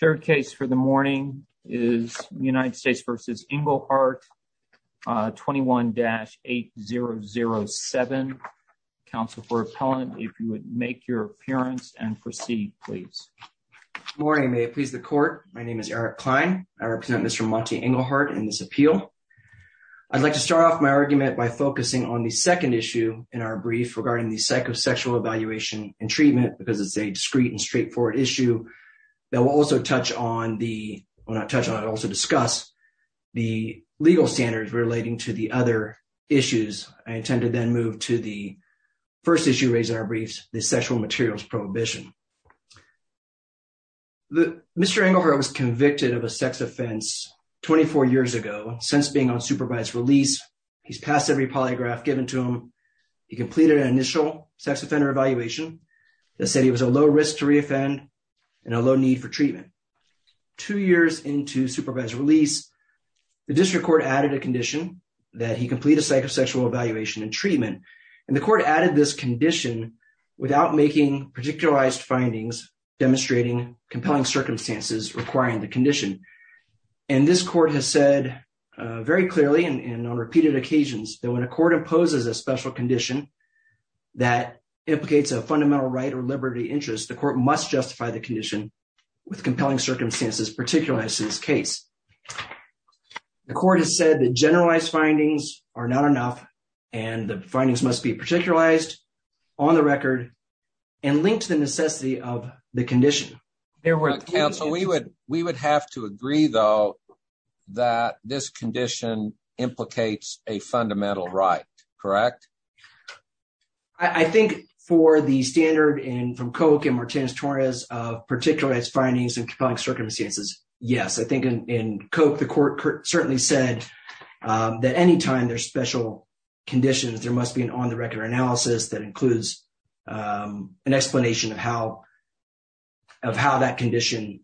Third case for the morning is United States v. Englehart, 21-8007. Counsel for appellant, if you would make your appearance and proceed, please. Good morning, may it please the court. My name is Eric Klein. I represent Mr. Monty Englehart in this appeal. I'd like to start off my argument by focusing on the second issue in our brief regarding the psychosexual evaluation and treatment because it's a discreet and straightforward issue that will also discuss the legal standards relating to the other issues. I intend to then move to the first issue raised in our briefs, the sexual materials prohibition. Mr. Englehart was convicted of a sex offense 24 years ago. Since being on supervised release, he's passed every polygraph given to him. He completed an initial sex offender evaluation that said he was a low risk to reoffend and a low need for treatment. Two years into supervised release, the district court added a condition that he complete a psychosexual evaluation and treatment. And the court added this condition without making particularized findings demonstrating compelling circumstances requiring the condition. And this court has said very clearly and on implicates a fundamental right or liberty interest. The court must justify the condition with compelling circumstances particularizing this case. The court has said that generalized findings are not enough and the findings must be particularized on the record and linked to the necessity of the condition. Counsel, we would have to agree though that this condition implicates a fundamental right, correct? I think for the standard and from Koch and Martinez-Torres of particularized findings and compelling circumstances, yes. I think in Koch, the court certainly said that anytime there's special conditions, there must be an on-the-record analysis that includes an explanation of how that condition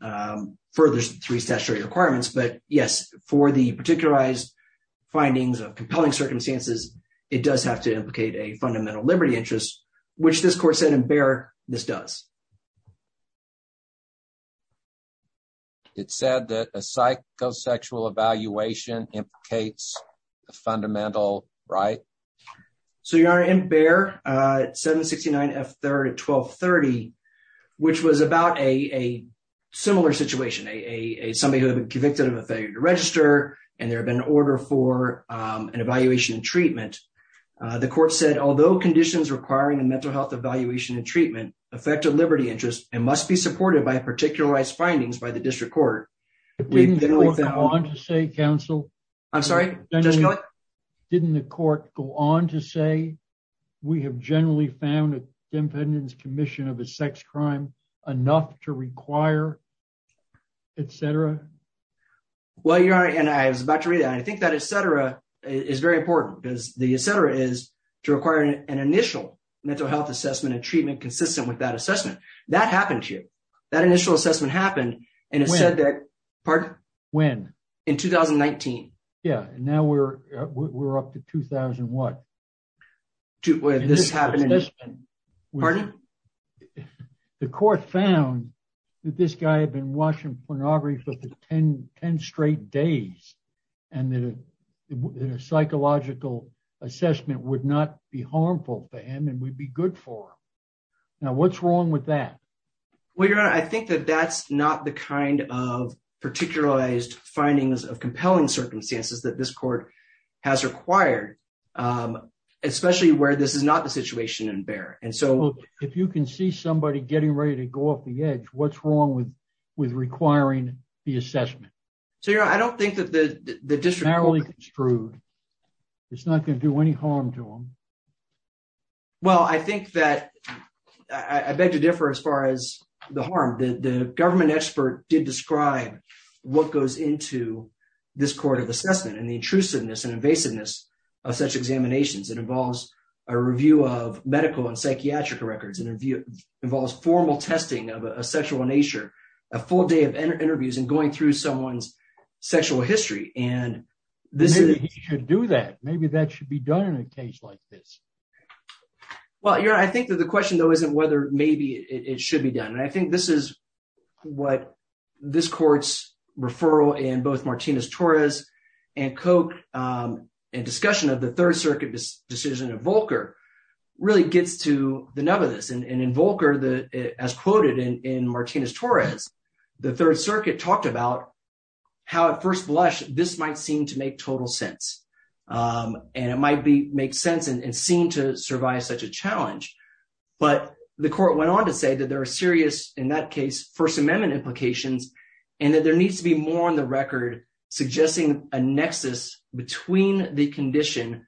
furthers the three statutory requirements. But yes, for the particularized findings of compelling circumstances, it does have to implicate a fundamental liberty interest, which this court said in Behr, this does. It said that a psychosexual evaluation implicates a fundamental right? So, Your Honor, in Behr, 769 F-1230, which was about a similar situation, somebody who had been convicted of a failure to register and there had been an order for an evaluation and treatment, the court said, although conditions requiring a mental health evaluation and treatment affect a liberty interest, it must be supported by a particularized findings by the district court. Didn't you want to say, counsel? I'm sorry? Just go ahead. Didn't the court go on to say, we have generally found a defendant's commission of a sex crime enough to require, et cetera? Well, Your Honor, and I was about to read that. I think that et cetera is very important because the et cetera is to require an initial mental health assessment and treatment consistent with that assessment. That happened to you. That initial assessment happened and it said that, pardon? When? In 2019. Yeah. And now we're up to 2000 what? This happened in... Pardon? The court found that this guy had been watching pornography for 10 straight days and that a psychological assessment would not be harmful for him and would be good for him. Now, what's wrong with that? Well, Your Honor, I think that that's not the kind of particularized findings of compelling circumstances that this court has required, especially where this is not the situation in bear. And so- Well, if you can see somebody getting ready to go off the edge, what's wrong with requiring the assessment? So, Your Honor, I don't think that the district court- It's narrowly construed. It's not going to do any harm to him. Well, I think that... I beg to differ as far as the harm. The government expert did describe what goes into this court of assessment and the intrusiveness and invasiveness of such examinations. It involves a review of medical and psychiatric records. It involves formal testing of a sexual nature, a full day of interviews and going through someone's sexual history. And this is- Maybe he should do that. Maybe that should be done in a case like this. Well, Your Honor, I think that the question, though, isn't whether maybe it should be done. I think this is what this court's referral in both Martinez-Torres and Koch and discussion of the Third Circuit decision of Volcker really gets to the nub of this. And in Volcker, as quoted in Martinez-Torres, the Third Circuit talked about how at first blush, this might seem to make total sense. And it might make sense and seem to survive such a challenge. But the court went on to say that there are serious, in that case, First Amendment implications, and that there needs to be more on the record suggesting a nexus between the condition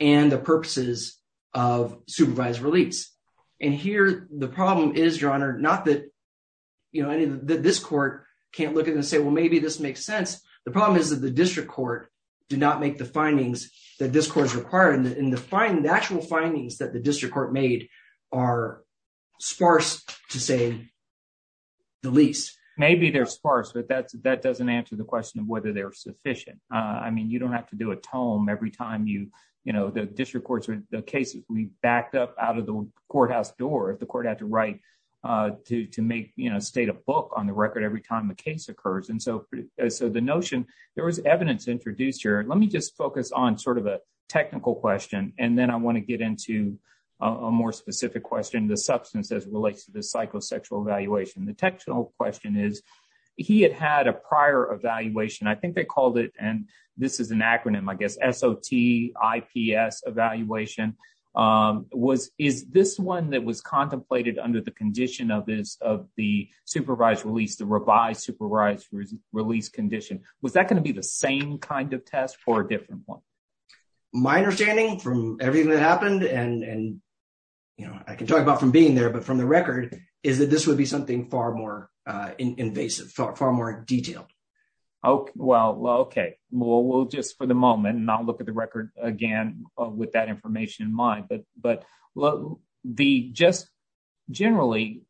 and the purposes of supervised release. And here the problem is, Your Honor, not that this court can't look at it and say, well, maybe this makes sense. The problem is that the district court did not make the findings that this court's required. And the actual findings that the district court made are sparse, to say the least. Maybe they're sparse, but that doesn't answer the question of whether they're sufficient. I mean, you don't have to do a tome every time you, you know, the district courts or the cases we backed up out of the courthouse door if the court had to write to make, you know, state a book on the record every time a case occurs. And so the notion, there was evidence introduced here. Let me just focus on sort of a technical question, and then I want to get into a more specific question, the substance as it relates to the psychosexual evaluation. The technical question is, he had had a prior evaluation, I think they called it, and this is an acronym, I guess, SOT, IPS evaluation, was, is this one that was contemplated under the condition of this, of the supervised release, the revised supervised release condition, was that going to be the same kind of test or a different one? My understanding from everything that happened and, and, you know, I can talk about from being there, but from the record is that this would be something far more invasive, far more detailed. Oh, well, okay. Well, we'll just for the moment not look at the record again with that information in mind, but, but the just generally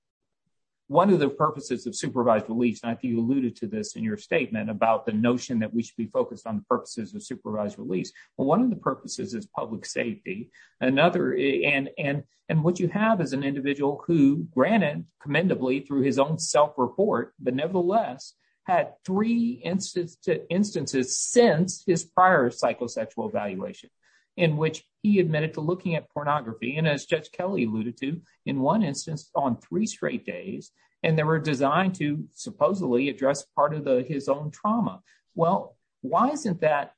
one of the purposes of supervised release, and I think you alluded to this in your statement about the notion that we should be focused on the purposes of supervised release, but one of the purposes is public safety. Another, and, and, and what you have is an individual who granted commendably through his own self-report, but nevertheless had three instances, instances since his prior psychosexual evaluation, in which he admitted to looking at pornography, and as Judge Kelly alluded to, in one instance on three straight days, and they were designed to supposedly address part of the his own trauma. Well, why isn't that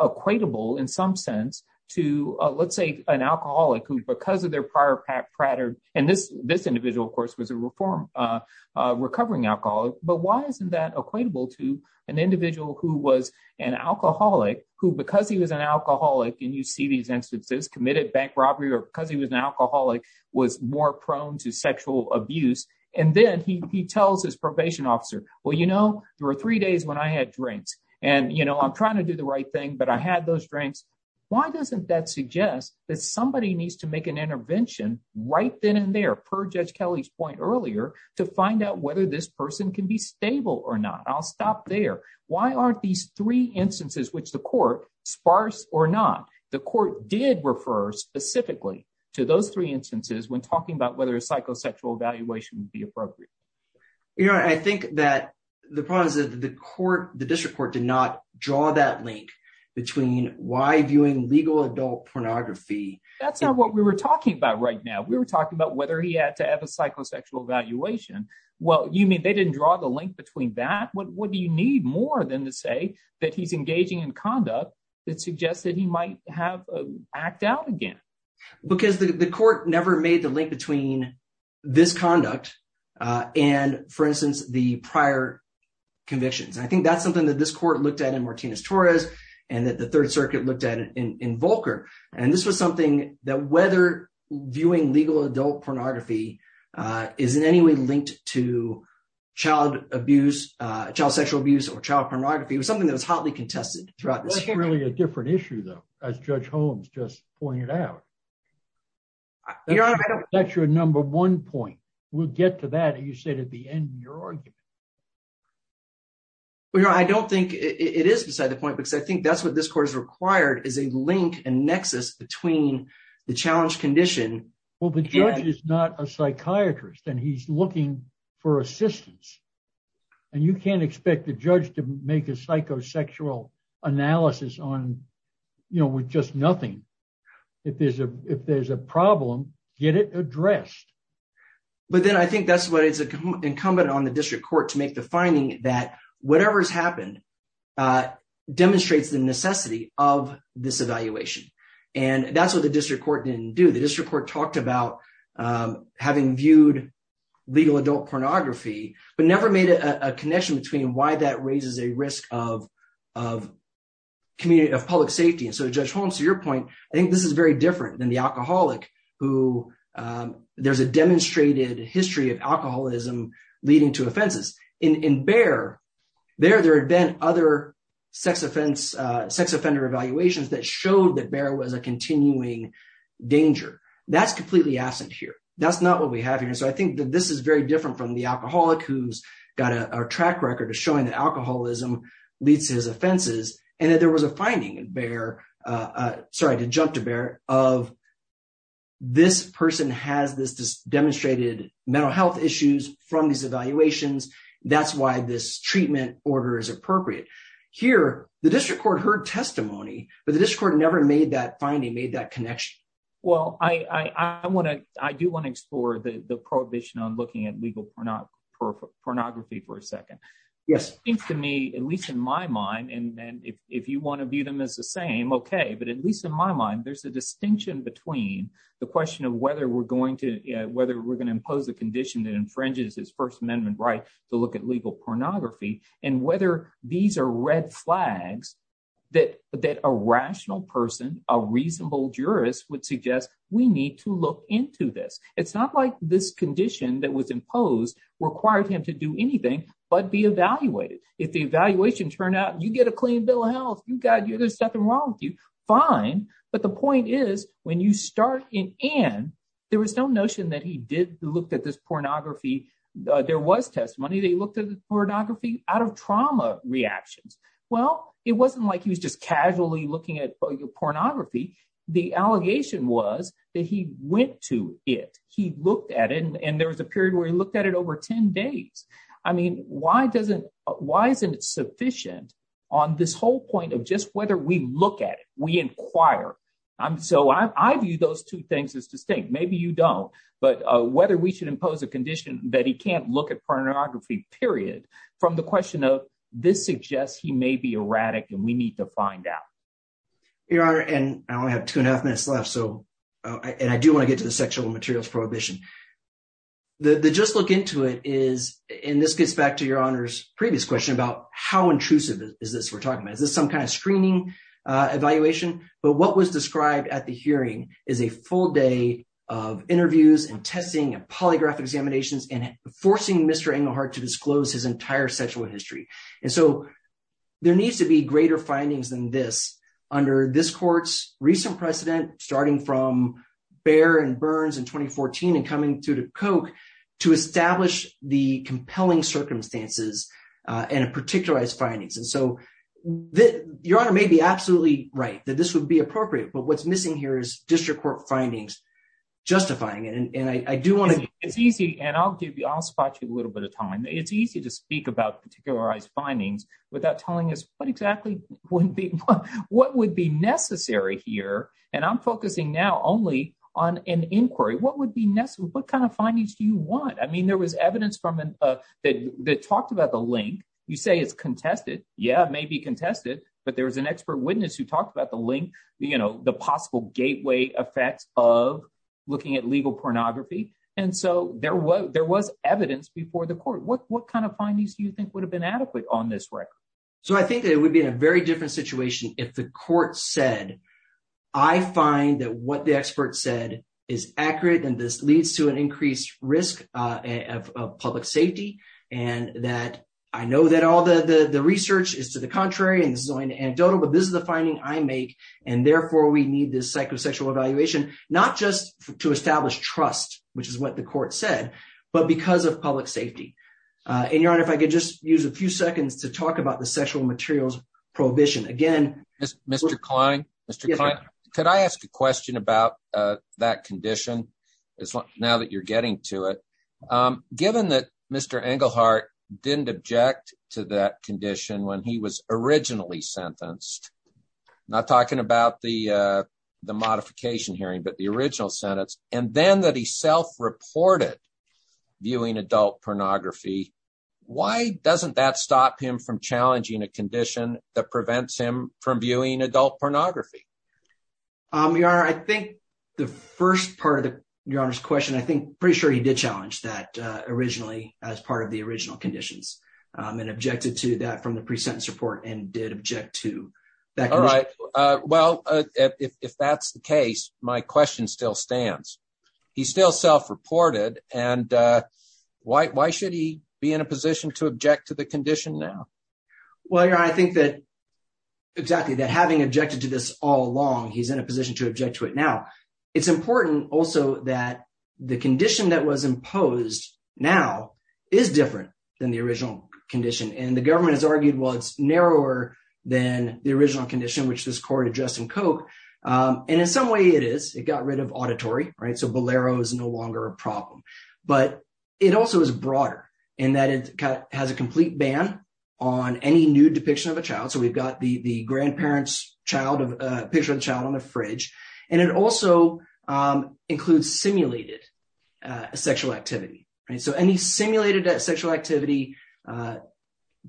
equatable in some sense to, let's say, an alcoholic who because of their prior pratter, and this, this individual, of course, was a reform, recovering alcoholic, but why isn't that equatable to an individual who was an alcoholic, who, because he was an alcoholic, and you see these instances, committed bank robbery, or because he was an alcoholic, was more prone to sexual abuse, and then he, he tells his probation officer, well, you know, there were three days when I had drinks, and, you know, I'm trying to do the right thing, but I had those drinks. Why doesn't that suggest that somebody needs to make an intervention right then and there, per Judge Kelly's point earlier, to find out whether this person can be stable or not? I'll stop there. Why aren't these three instances, which the court, sparse or not, the court did refer specifically to those three instances when talking about whether a psychosexual evaluation would be appropriate? You know, I think that the problem is that the court, the district court, did not draw that link between why viewing legal adult pornography. That's not what we were talking about right now. We were talking about whether he had to have a psychosexual evaluation. Well, you mean they didn't draw the link between that? What, what do you need more than to say that he's engaging in conduct that suggests that he might have act out again? Because the court never made the link between this conduct and, for instance, the prior convictions. I think that's something that this court looked at in Martinez-Torres, and that the Third Circuit looked at in Volcker. And this was something that whether viewing legal adult pornography is in any way linked to child abuse, child sexual abuse, or child pornography was something that was hotly contested throughout this hearing. That's really a different issue, though, as Judge Holmes just pointed out. That's your number one point. We'll get to that, you said, at the end of your argument. Well, you know, I don't think it is beside the point, because I think that's what this court has required, is a link and nexus between the challenge condition. Well, the judge is not a psychiatrist, and he's looking for assistance. And you can't expect the judge to make a psychosexual analysis on, you know, with just nothing. If there's a problem, get it addressed. But then I think that's what is incumbent on the district court to make the finding that whatever's happened demonstrates the necessity of this evaluation. And that's what the district court didn't do. The district court talked about having viewed legal adult pornography, but never made a connection between why that raises a risk of public safety. And so, Judge Holmes, to your point, I think this is very different than the alcoholic who there's a demonstrated history of alcoholism leading to offenses. In Bear, there had been other sex offender evaluations that showed that Bear was a continuing danger. That's completely absent here. That's not what we have here. So I think that this is very different from the alcoholic who's got a track record of showing that alcoholism leads to his offenses. And that there was a finding in Bear, sorry to jump to Bear, of this person has this demonstrated mental health issues from these evaluations. That's why this treatment order is appropriate. Here, the district court heard testimony, but the district court never finally made that connection. Well, I do want to explore the prohibition on looking at legal pornography for a second. Yes. It seems to me, at least in my mind, and then if you want to view them as the same, okay. But at least in my mind, there's a distinction between the question of whether we're going to impose a condition that infringes his First Amendment right to look at flags that a rational person, a reasonable jurist, would suggest we need to look into this. It's not like this condition that was imposed required him to do anything but be evaluated. If the evaluation turned out, you get a clean bill of health, there's nothing wrong with you, fine. But the point is, when you start and end, there was no notion that he did look at this pornography. There was well, it wasn't like he was just casually looking at your pornography. The allegation was that he went to it, he looked at it, and there was a period where he looked at it over 10 days. I mean, why doesn't, why isn't it sufficient on this whole point of just whether we look at it, we inquire. So I view those two things as distinct. Maybe you don't. But whether we should impose a condition that he can't look at pornography, period, from the question of this suggests he may be erratic, and we need to find out. Your Honor, and I only have two and a half minutes left, so, and I do want to get to the sexual materials prohibition. The just look into it is, and this gets back to Your Honor's previous question about how intrusive is this we're talking about. Is this some kind of screening evaluation? But what was described at the hearing is a full day of interviews and testing and polygraph examinations and forcing Mr. Englehart to there needs to be greater findings than this under this court's recent precedent, starting from Bayer and Burns in 2014 and coming through to Koch to establish the compelling circumstances and a particularized findings. And so Your Honor may be absolutely right that this would be appropriate, but what's missing here is district court findings justifying it. And I do want to. It's easy, and I'll give you, I'll spot you a little bit of time. It's easy to speak about findings without telling us what exactly wouldn't be what would be necessary here. And I'm focusing now only on an inquiry. What would be necessary? What kind of findings do you want? I mean, there was evidence from that talked about the link. You say it's contested. Yeah, maybe contested, but there was an expert witness who talked about the link, you know, the possible gateway effects of looking at legal pornography. And so there was evidence before the court. What kind of findings do you think would have been adequate on this record? So I think that it would be in a very different situation if the court said, I find that what the expert said is accurate, and this leads to an increased risk of public safety. And that I know that all the research is to the contrary, and this is only anecdotal, but this is the finding I make. And therefore, we need this psychosexual evaluation, not just to establish trust, which is what the court said, but because of public safety. And, Your Honor, if I could just use a few seconds to talk about the sexual materials prohibition. Again, Mr. Klein, Mr. Klein, could I ask a question about that condition now that you're getting to it? Given that Mr. Engelhardt didn't object to that condition when he was originally sentenced, not talking about the modification hearing, but the original sentence, and then that he self-reported viewing adult pornography, why doesn't that stop him from challenging a condition that prevents him from viewing adult pornography? Your Honor, I think the first part of Your Honor's question, I think pretty sure he did challenge that originally as part of the original conditions and objected to that from the pre-sentence report and did object to that condition. All right. Well, if that's the case, my question still stands. He's still self-reported, and why should he be in a position to object to the condition now? Well, Your Honor, I think that, exactly, that having objected to this all along, he's in a position to object to it now. It's important also that the condition that was imposed now is different than the original condition. And the government has argued, well, it's narrower than the original condition, which this court addressed in Koch. And in some way, it is. It got rid of auditory, right? So Bolero is no longer a problem. But it also is broader in that it has a complete ban on any nude depiction of a child. So we've got the grandparent's picture of a child on the fridge. And it also includes simulated sexual activity. So any simulated sexual activity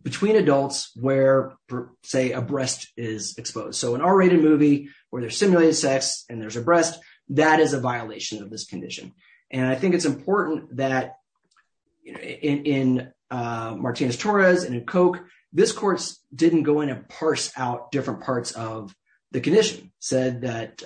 between adults where, say, a breast is exposed. So an R-rated movie where there's simulated sex and there's a breast, that is a violation of this condition. And I think it's important that in Martinez-Torres and in Koch, this court didn't go in and parse out different parts of the condition, said that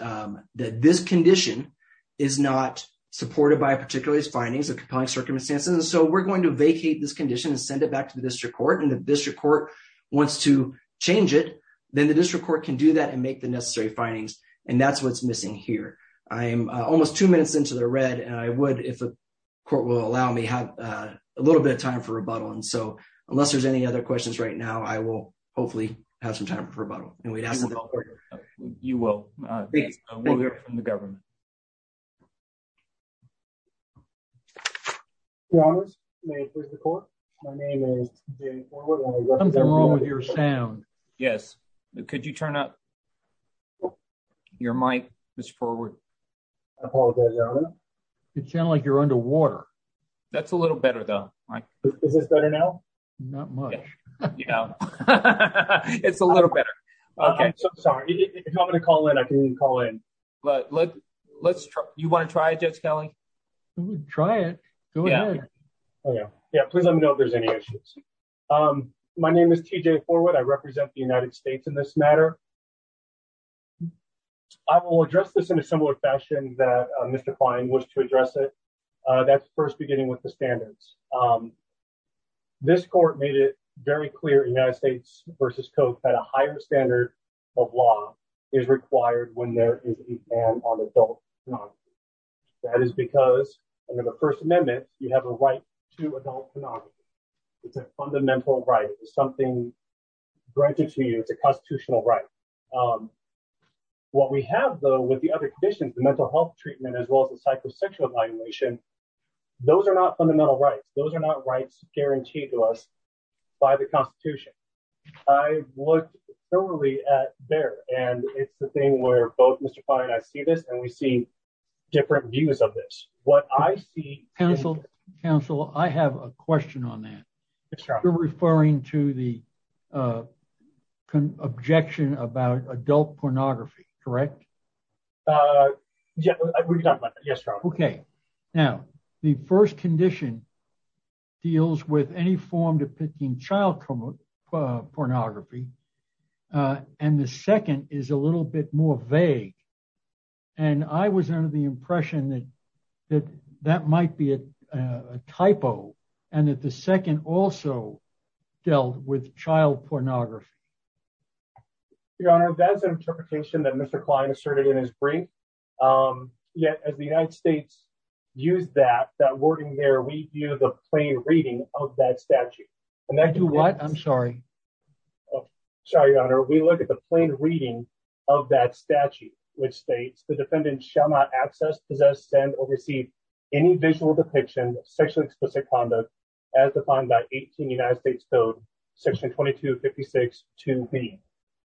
this condition is not supported by a particular's findings of compelling circumstances. And so we're going to vacate this condition and send it back to the district court. And if the district court wants to change it, then the district court can do that and make the necessary findings. And that's what's missing here. I am almost two minutes into the red. And I would, if the court will allow me, have a little bit of time for rebuttal. And so unless there's any other questions right now, I will hopefully have some time for rebuttal. And we'd have to vote for you. You will. We'll hear from the government. Your honors, may it please the court. My name is David Forward. Something's wrong with your sound. Yes. Could you turn up your mic, Mr. Forward? I apologize, your honor. You sound like you're underwater. That's a little better, though. Is this better now? Not much. Yeah. It's a little better. Okay. So sorry. If you want me to call in, I can call in. But let's try. You want to try it, Judge Kelly? Try it. Go ahead. Oh, yeah. Yeah. Please let me know if there's any issues. My name is T.J. Forward. I represent the United States in this matter. I will address this in a similar fashion that Mr. Klein was to address it. That's first, beginning with the standards. This court made it very clear, United States versus Koch, that a higher standard of law is required when there is a ban on adult. That is because under the First Amendment, you have a right to adult. It's a fundamental right. It's something granted to you. It's a constitutional right. What we have, though, with the other conditions, the mental health treatment, as well as the psychosexual evaluation, those are not fundamental rights. Those are not rights guaranteed to us by the Constitution. I look thoroughly at there, and it's the thing where both Mr. Klein and I see this, and we see different views of this. What I see. Counsel, I have a question on that. You're referring to the objection about adult pornography, correct? Yes, we've done that. Yes, Your Honor. Okay. Now, the first condition deals with any form depicting child pornography, and the second is a little bit more vague. I was under the impression that that might be a typo, and that the second also dealt with child pornography. Your Honor, that's an interpretation that Mr. Klein asserted in his brief. Yet, as the United States used that, that wording there, we view the plain reading of that statute. I do what? I'm sorry. Sorry, Your Honor. We look at the plain reading of that statute, which states, the defendant shall not access, possess, send, or receive any visual depiction of explicit conduct as defined by 18 United States Code Section 2256-2b,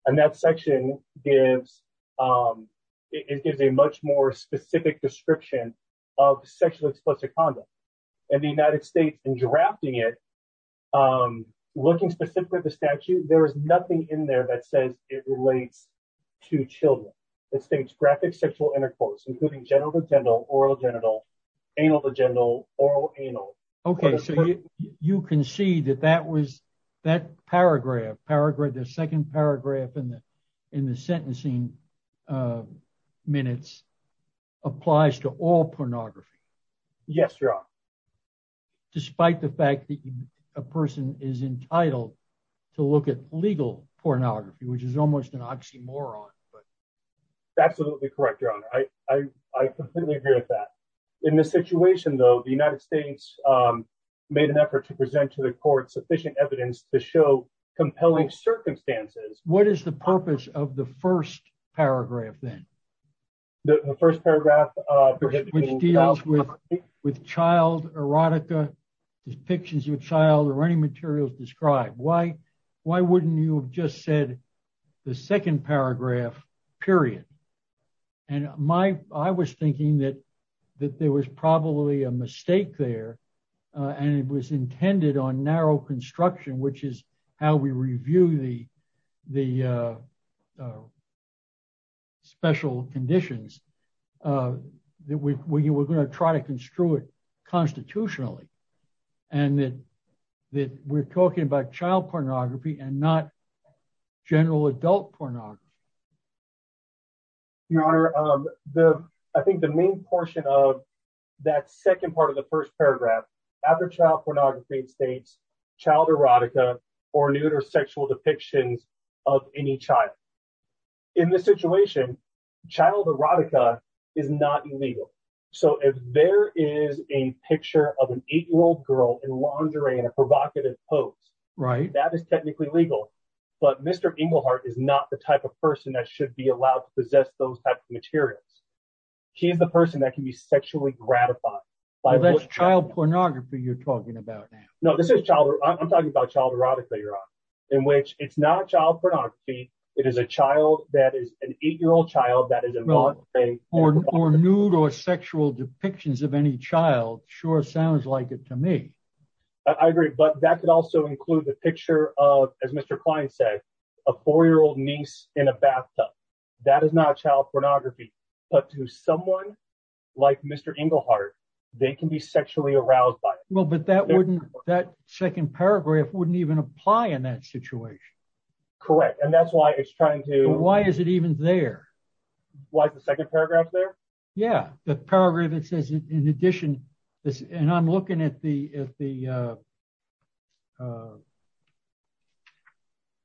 and that section gives a much more specific description of sexually explicit conduct. In the United States, in drafting it, looking specifically at the statute, there is nothing in there that says it relates to children. It states graphic sexual intercourse, including genital to genital, oral to genital, anal to genital, oral to anal. Okay, so you can see that that paragraph, the second paragraph in the sentencing minutes, applies to all pornography. Yes, Your Honor. Despite the fact that a person is entitled to look at legal pornography, which is almost an oxymoron. Right. Absolutely correct, Your Honor. I completely agree with that. In this situation, though, the United States made an effort to present to the court sufficient evidence to show compelling circumstances. What is the purpose of the first paragraph then? The first paragraph, which deals with child erotica, depictions of a child, or any materials described. Why wouldn't you have just said the second paragraph, period? I was thinking that there was probably a mistake there, and it was intended on narrow construction, which is how we review the special conditions. We were going to try to construe it constitutionally, and that we're talking about child pornography and not general adult pornography. Your Honor, I think the main portion of that second part of the first paragraph, after child pornography, it states child erotica or nude or sexual depictions of any child. In this situation, child erotica is not illegal. If there is a picture of an eight-year-old girl in lingerie in a provocative pose, that is technically legal, but Mr. Englehart is not the type of person that should be allowed to possess those types of materials. He is the person that can be sexually gratified. That's child pornography you're talking about now. No, I'm talking about child erotica, Your Honor, in which it's not child pornography, it is a child that is an eight-year-old child that is involved. Or nude or sexual depictions of any child sure sounds like it to me. I agree, but that could also include the picture of, as Mr. Klein said, a four-year-old niece in a bathtub. That is not child pornography, but to someone like Mr. Englehart, they can be sexually aroused by it. Well, but that second paragraph wouldn't even apply in that situation. Correct, and that's why it's trying to- Why is it even there? Why is the second paragraph there? Yeah, the paragraph that says, in addition, and I'm looking at the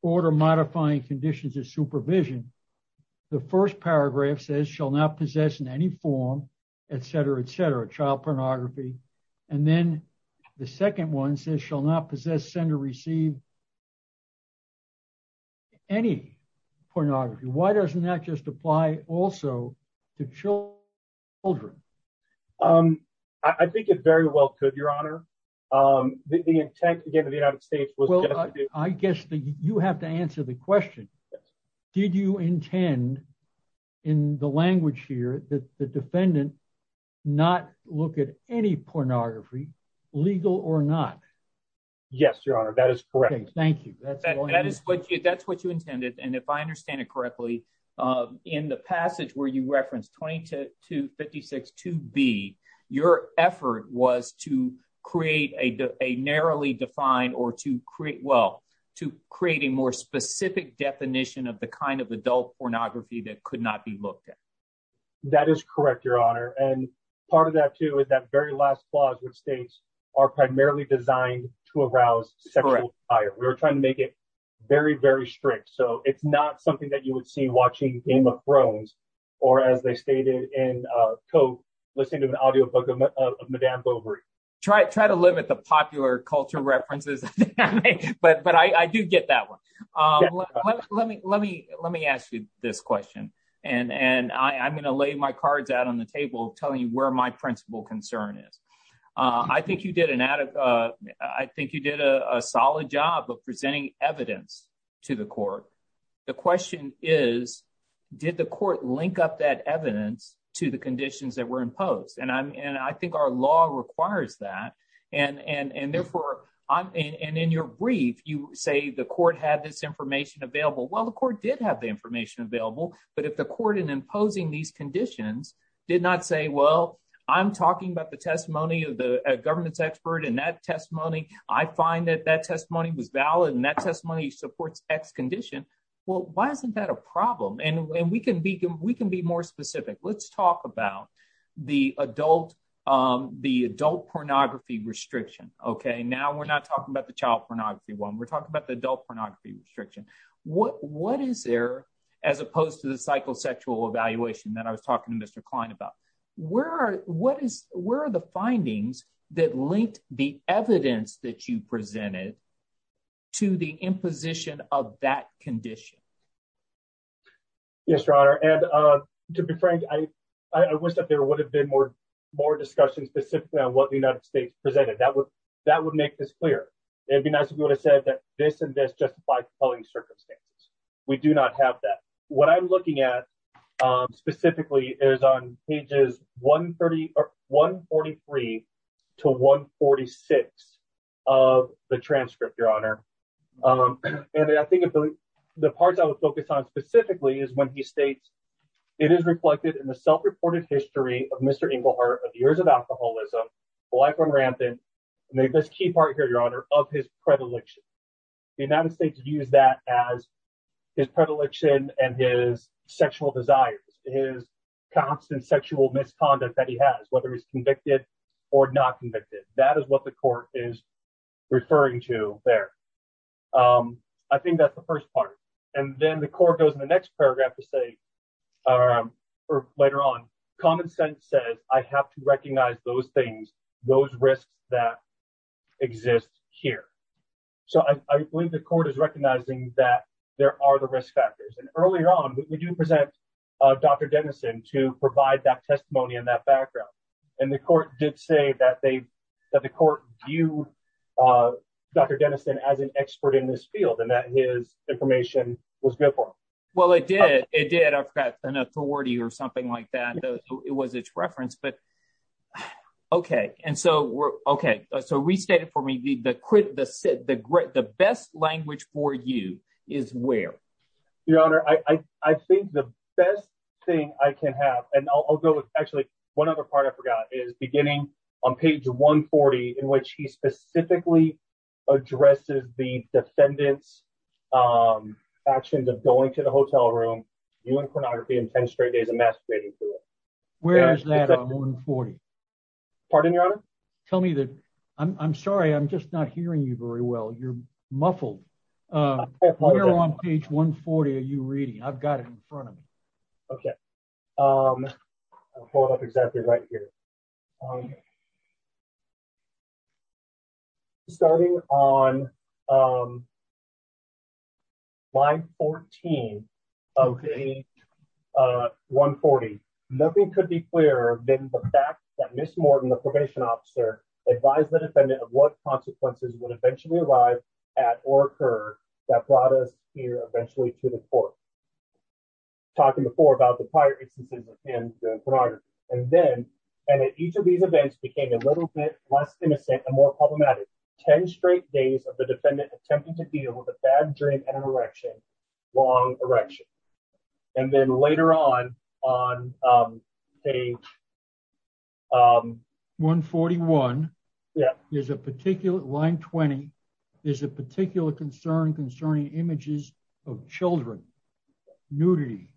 order modifying conditions of supervision. The first paragraph says, shall not possess in any form, et cetera, et cetera, child pornography. And then the second one says, shall not possess, send or receive any pornography. Why doesn't that just apply also to children? I think it very well could, Your Honor. The intent, again, of the United States was- Well, I guess that you have to answer the question. Did you intend, in the language here, that the defendant not look at any pornography, legal or not? Yes, Your Honor, that is correct. Thank you. That's what you intended, and if I understand it correctly, in the passage where you referenced 2256-2B, your effort was to create a narrowly defined, well, to create a more specific definition of the kind of adult pornography that could not be looked at. That is correct, Your Honor, and part of that, too, is that very last clause, which states, are primarily designed to arouse sexual desire. We were trying to make it very, very strict, so it's not something that you would see watching Game of Thrones or, as they stated in Cope, listening to an audiobook of Madame Bovary. Try to live with the popular culture references, but I do get that one. Let me ask you this question, and I'm going to lay my cards out on the table, telling you where my principal concern is. I think you did a solid job of presenting evidence to the court. The question is, did the court link up that evidence to the conditions that were imposed? I think our law requires that, and therefore, in your brief, you say the court had this information available. Well, the court did have the information available, but if the court, in imposing these conditions, did not say, well, I'm talking about the testimony of a governance expert, and that testimony, I find that that testimony was valid, and that testimony supports X condition, well, why isn't that a problem? We can be more specific. Let's talk about the adult pornography restriction. Now, we're not talking about the child pornography one. We're talking about the adult pornography restriction. What is there, as opposed to the psychosexual evaluation that I was talking to Mr. Klein about? Where are the findings that linked the evidence that you presented to the imposition of that condition? Yes, Your Honor, and to be frank, I wish that there would have been more discussion specifically on what the United States presented. That would make this clearer. It would be nice if we would have said that this and this justify quality circumstances. We do not have that. What I'm looking at, specifically, is on pages 143 to 146 of the transcript, Your Honor, and I think the parts I would focus on specifically is when he states, it is reflected in the self-reported history of Mr. Engelhardt of years of alcoholism, life on rampant, and this key part here, Your Honor, of his predilection. The United States used that as his predilection and his sexual desires, his constant sexual misconduct that he has, whether he's convicted or not convicted. That is what the court is referring to there. I think that's the first part. Then the court goes in the next paragraph to say, or later on, common sense says, I have to recognize those things, those risks that exist here. I believe the court is recognizing that there are the risk factors. Earlier on, we do present Dr. Denison to provide that testimony in that background. The court did say that the court viewed Dr. Denison as an expert in this field and that his information was good for him. Well, it did. It did. I've got an authority or something like that. It was its reference. Restate it for me. The best language for you is where? Your Honor, I think the best thing I can have, and I'll go with, actually, one other part I on page 140, in which he specifically addresses the defendant's actions of going to the hotel room, viewing pornography in 10 straight days, and masquerading through it. Where is that on 140? Pardon, Your Honor? Tell me that. I'm sorry. I'm just not hearing you very well. You're muffled. Where on page 140 are you reading? I've got it in front of me. Okay. I'll pull it up exactly right here. Starting on line 14 of page 140, nothing could be clearer than the fact that Ms. Morton, the probation officer, advised the defendant of what consequences would eventually arrive at or occur that brought us here eventually to the court. Talking before about the prior instances in the pornography. Each of these events became a little bit less innocent and more problematic. 10 straight days of the defendant attempting to deal with a bad dream and an erection, long erection. Then later on, on page 141, line 20, there's a particular concern images of children, nudity,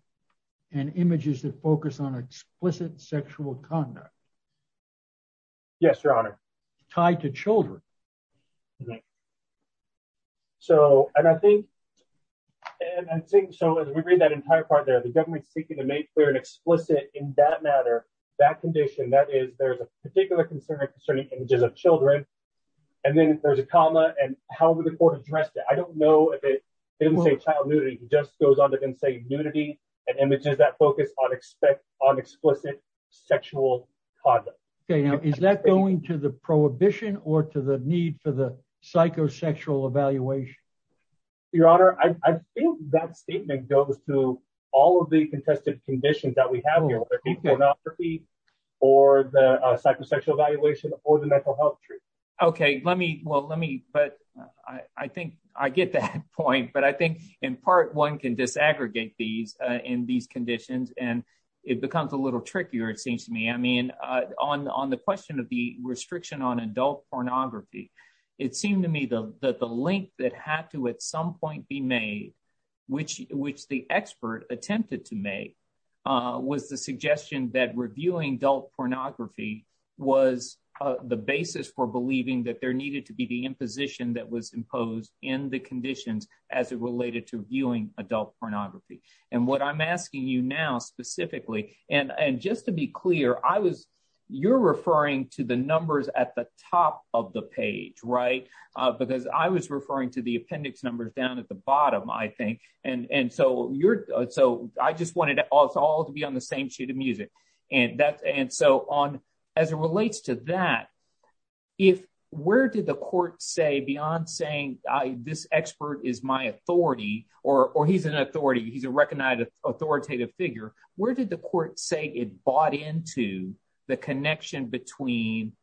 and images that focus on explicit sexual conduct. Yes, Your Honor. Tied to children. So, and I think, and I think, so as we read that entire part there, the government's seeking to make clear and explicit in that matter, that condition, that is there's a particular concern concerning images of children, and then there's a comma, and how would the court address that? I don't know if it didn't say child nudity, it just goes on to say nudity and images that focus on explicit sexual conduct. Okay, now is that going to the prohibition or to the need for the psychosexual evaluation? Your Honor, I think that statement goes to all of the contested conditions that we have here, the pornography or the psychosexual evaluation or the mental health Okay, let me, well let me, but I think I get that point, but I think in part one can disaggregate these in these conditions, and it becomes a little trickier it seems to me. I mean, on the question of the restriction on adult pornography, it seemed to me that the link that had to at some point be made, which the expert attempted to make, was the suggestion that reviewing adult pornography was the basis for believing that there needed to be the imposition that was imposed in the conditions as it related to viewing adult pornography, and what I'm asking you now specifically, and just to be clear, I was, you're referring to the numbers at the top of the page, right, because I was referring to the appendix numbers down at the And that, and so on, as it relates to that, if, where did the court say beyond saying this expert is my authority, or he's an authority, he's a recognized authoritative figure, where did the court say it bought into the connection between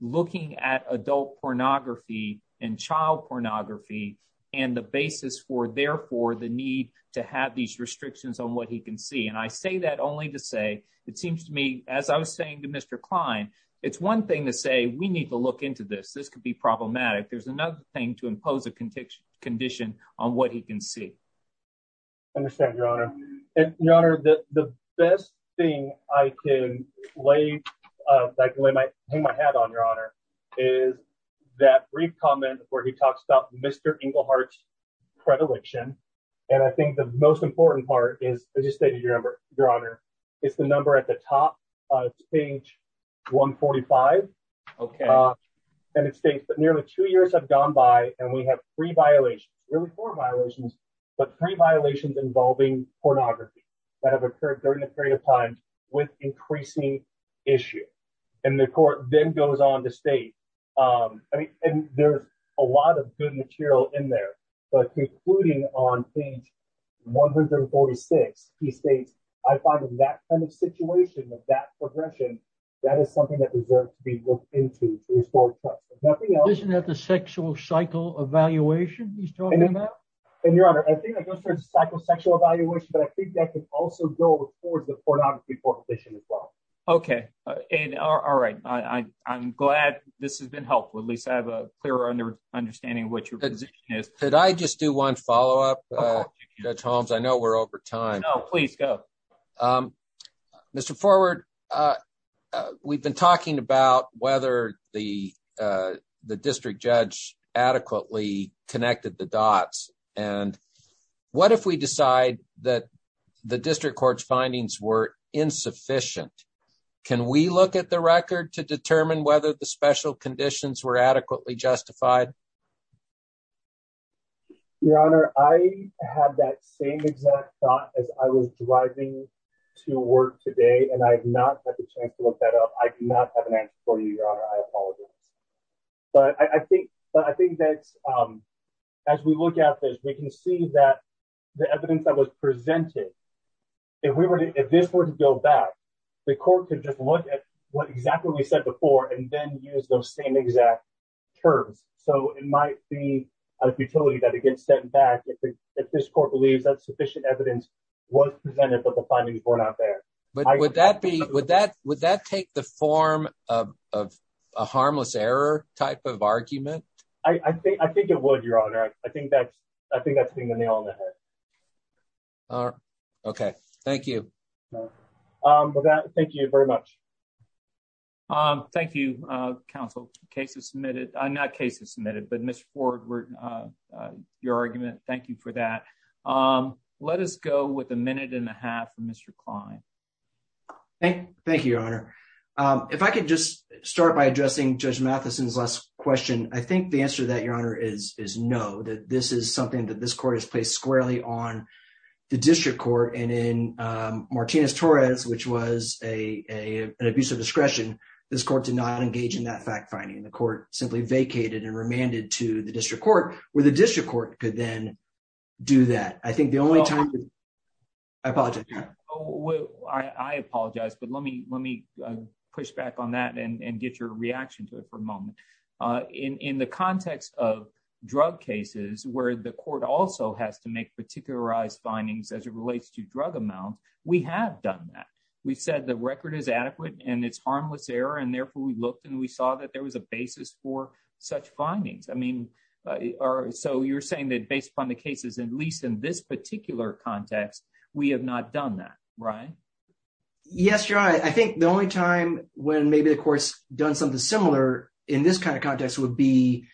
looking at adult pornography and child pornography and the basis for therefore the need to have these restrictions on what he can see, and I say that only to say, it seems to me, as I was saying to Mr. Klein, it's one thing to say we need to look into this, this could be problematic, there's another thing to impose a condition on what he can see. I understand, your honor, and your honor, the best thing I can lay, I can hang my hat on, your honor, is that brief comment where he talks about Mr. Englehart's predilection, and I think the most important part is, as you stated, your honor, it's the number at the top of page 145, and it states that nearly two years have gone by, and we have three violations, nearly four violations, but three violations involving pornography that have occurred during a period of time with increasing issue, and the court then goes on to state, I mean, and there's a lot of good material in there, but concluding on page 146, he states, I find in that kind of situation, with that progression, that is something that deserves to be looked into. Isn't that the sexual cycle evaluation he's talking about? And your honor, I think that goes towards psychosexual evaluation, but I think that could also go towards the pornography prohibition as well. Okay, and all right, I'm glad this has been helpful, at least I have a clearer understanding of what your position is. Could I just do one follow-up, Judge Holmes? I know we're over time. No, please go. Mr. Forward, we've been talking about whether the district judge adequately connected the dots, and what if we decide that the district court's findings were insufficient? Can we look at the record to determine whether the special conditions were adequately justified? Your honor, I had that same exact thought as I was driving to work today, and I have not had the chance to look that up. I do not have an answer for you, your honor, I apologize. But I think that as we look at this, we can see that the evidence that was presented, if this were to go back, the court could just look at what exactly we said before, and then use those same exact terms. So it might be a futility that it gets sent back if this court believes that sufficient evidence was presented, but the findings were not there. But would that take the form of a harmless error type of argument? I think it would, your honor. I think that's being the nail on the head. All right, okay, thank you. With that, thank you very much. Thank you, counsel. Cases submitted, not cases submitted, but Mr. Forward, your argument, thank you for that. Let us go with a minute and a half from Mr. Klein. Thank you, your honor. If I could just start by addressing Judge Matheson's last question, I think the answer to that, your honor, is no, that this is something that this court has placed squarely on the district court. And in Martinez-Torres, which was an abuse of discretion, this court did not engage in that fact finding. The court simply vacated and remanded to the district court, where the district court could then do that. I think the only time... I apologize. I apologize, but let me push back on that and get your reaction to it for a moment. In the context of drug cases, where the court also has to make particularized findings as it relates to drug amounts, we have done that. We've said the record is adequate and it's harmless error, and therefore we looked and we saw that there was a basis for such findings. So you're saying that based upon the cases, at least in this particular context, we have not done that, right? Yes, your honor. I think the only time when maybe the courts done something similar in this kind of context would be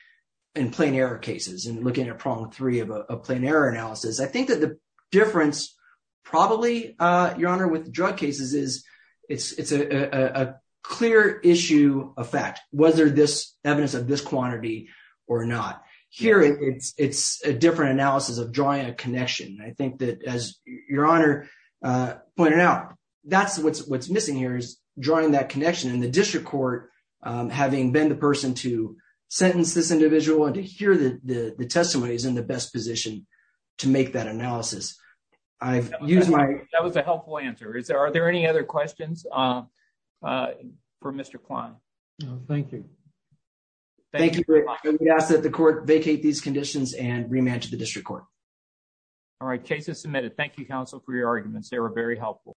in plain error cases and looking at problem three of a plain error analysis. I think that the difference probably, your honor, with drug cases is it's a clear issue of fact, whether there's evidence of this quantity or not. Here, it's a different analysis of drawing a connection. I think that, as your honor pointed out, that's what's missing here is drawing that connection. And the district court, having been the person to sentence this individual and to hear the testimony, is in the best position to make that analysis. That was a helpful answer. Are there any other questions for Mr. Kwan? No, thank you. Thank you, Rick. We ask that the court vacate these conditions and re-manage the district court. All right. Case is submitted. Thank you, counsel, for your arguments. They were very helpful.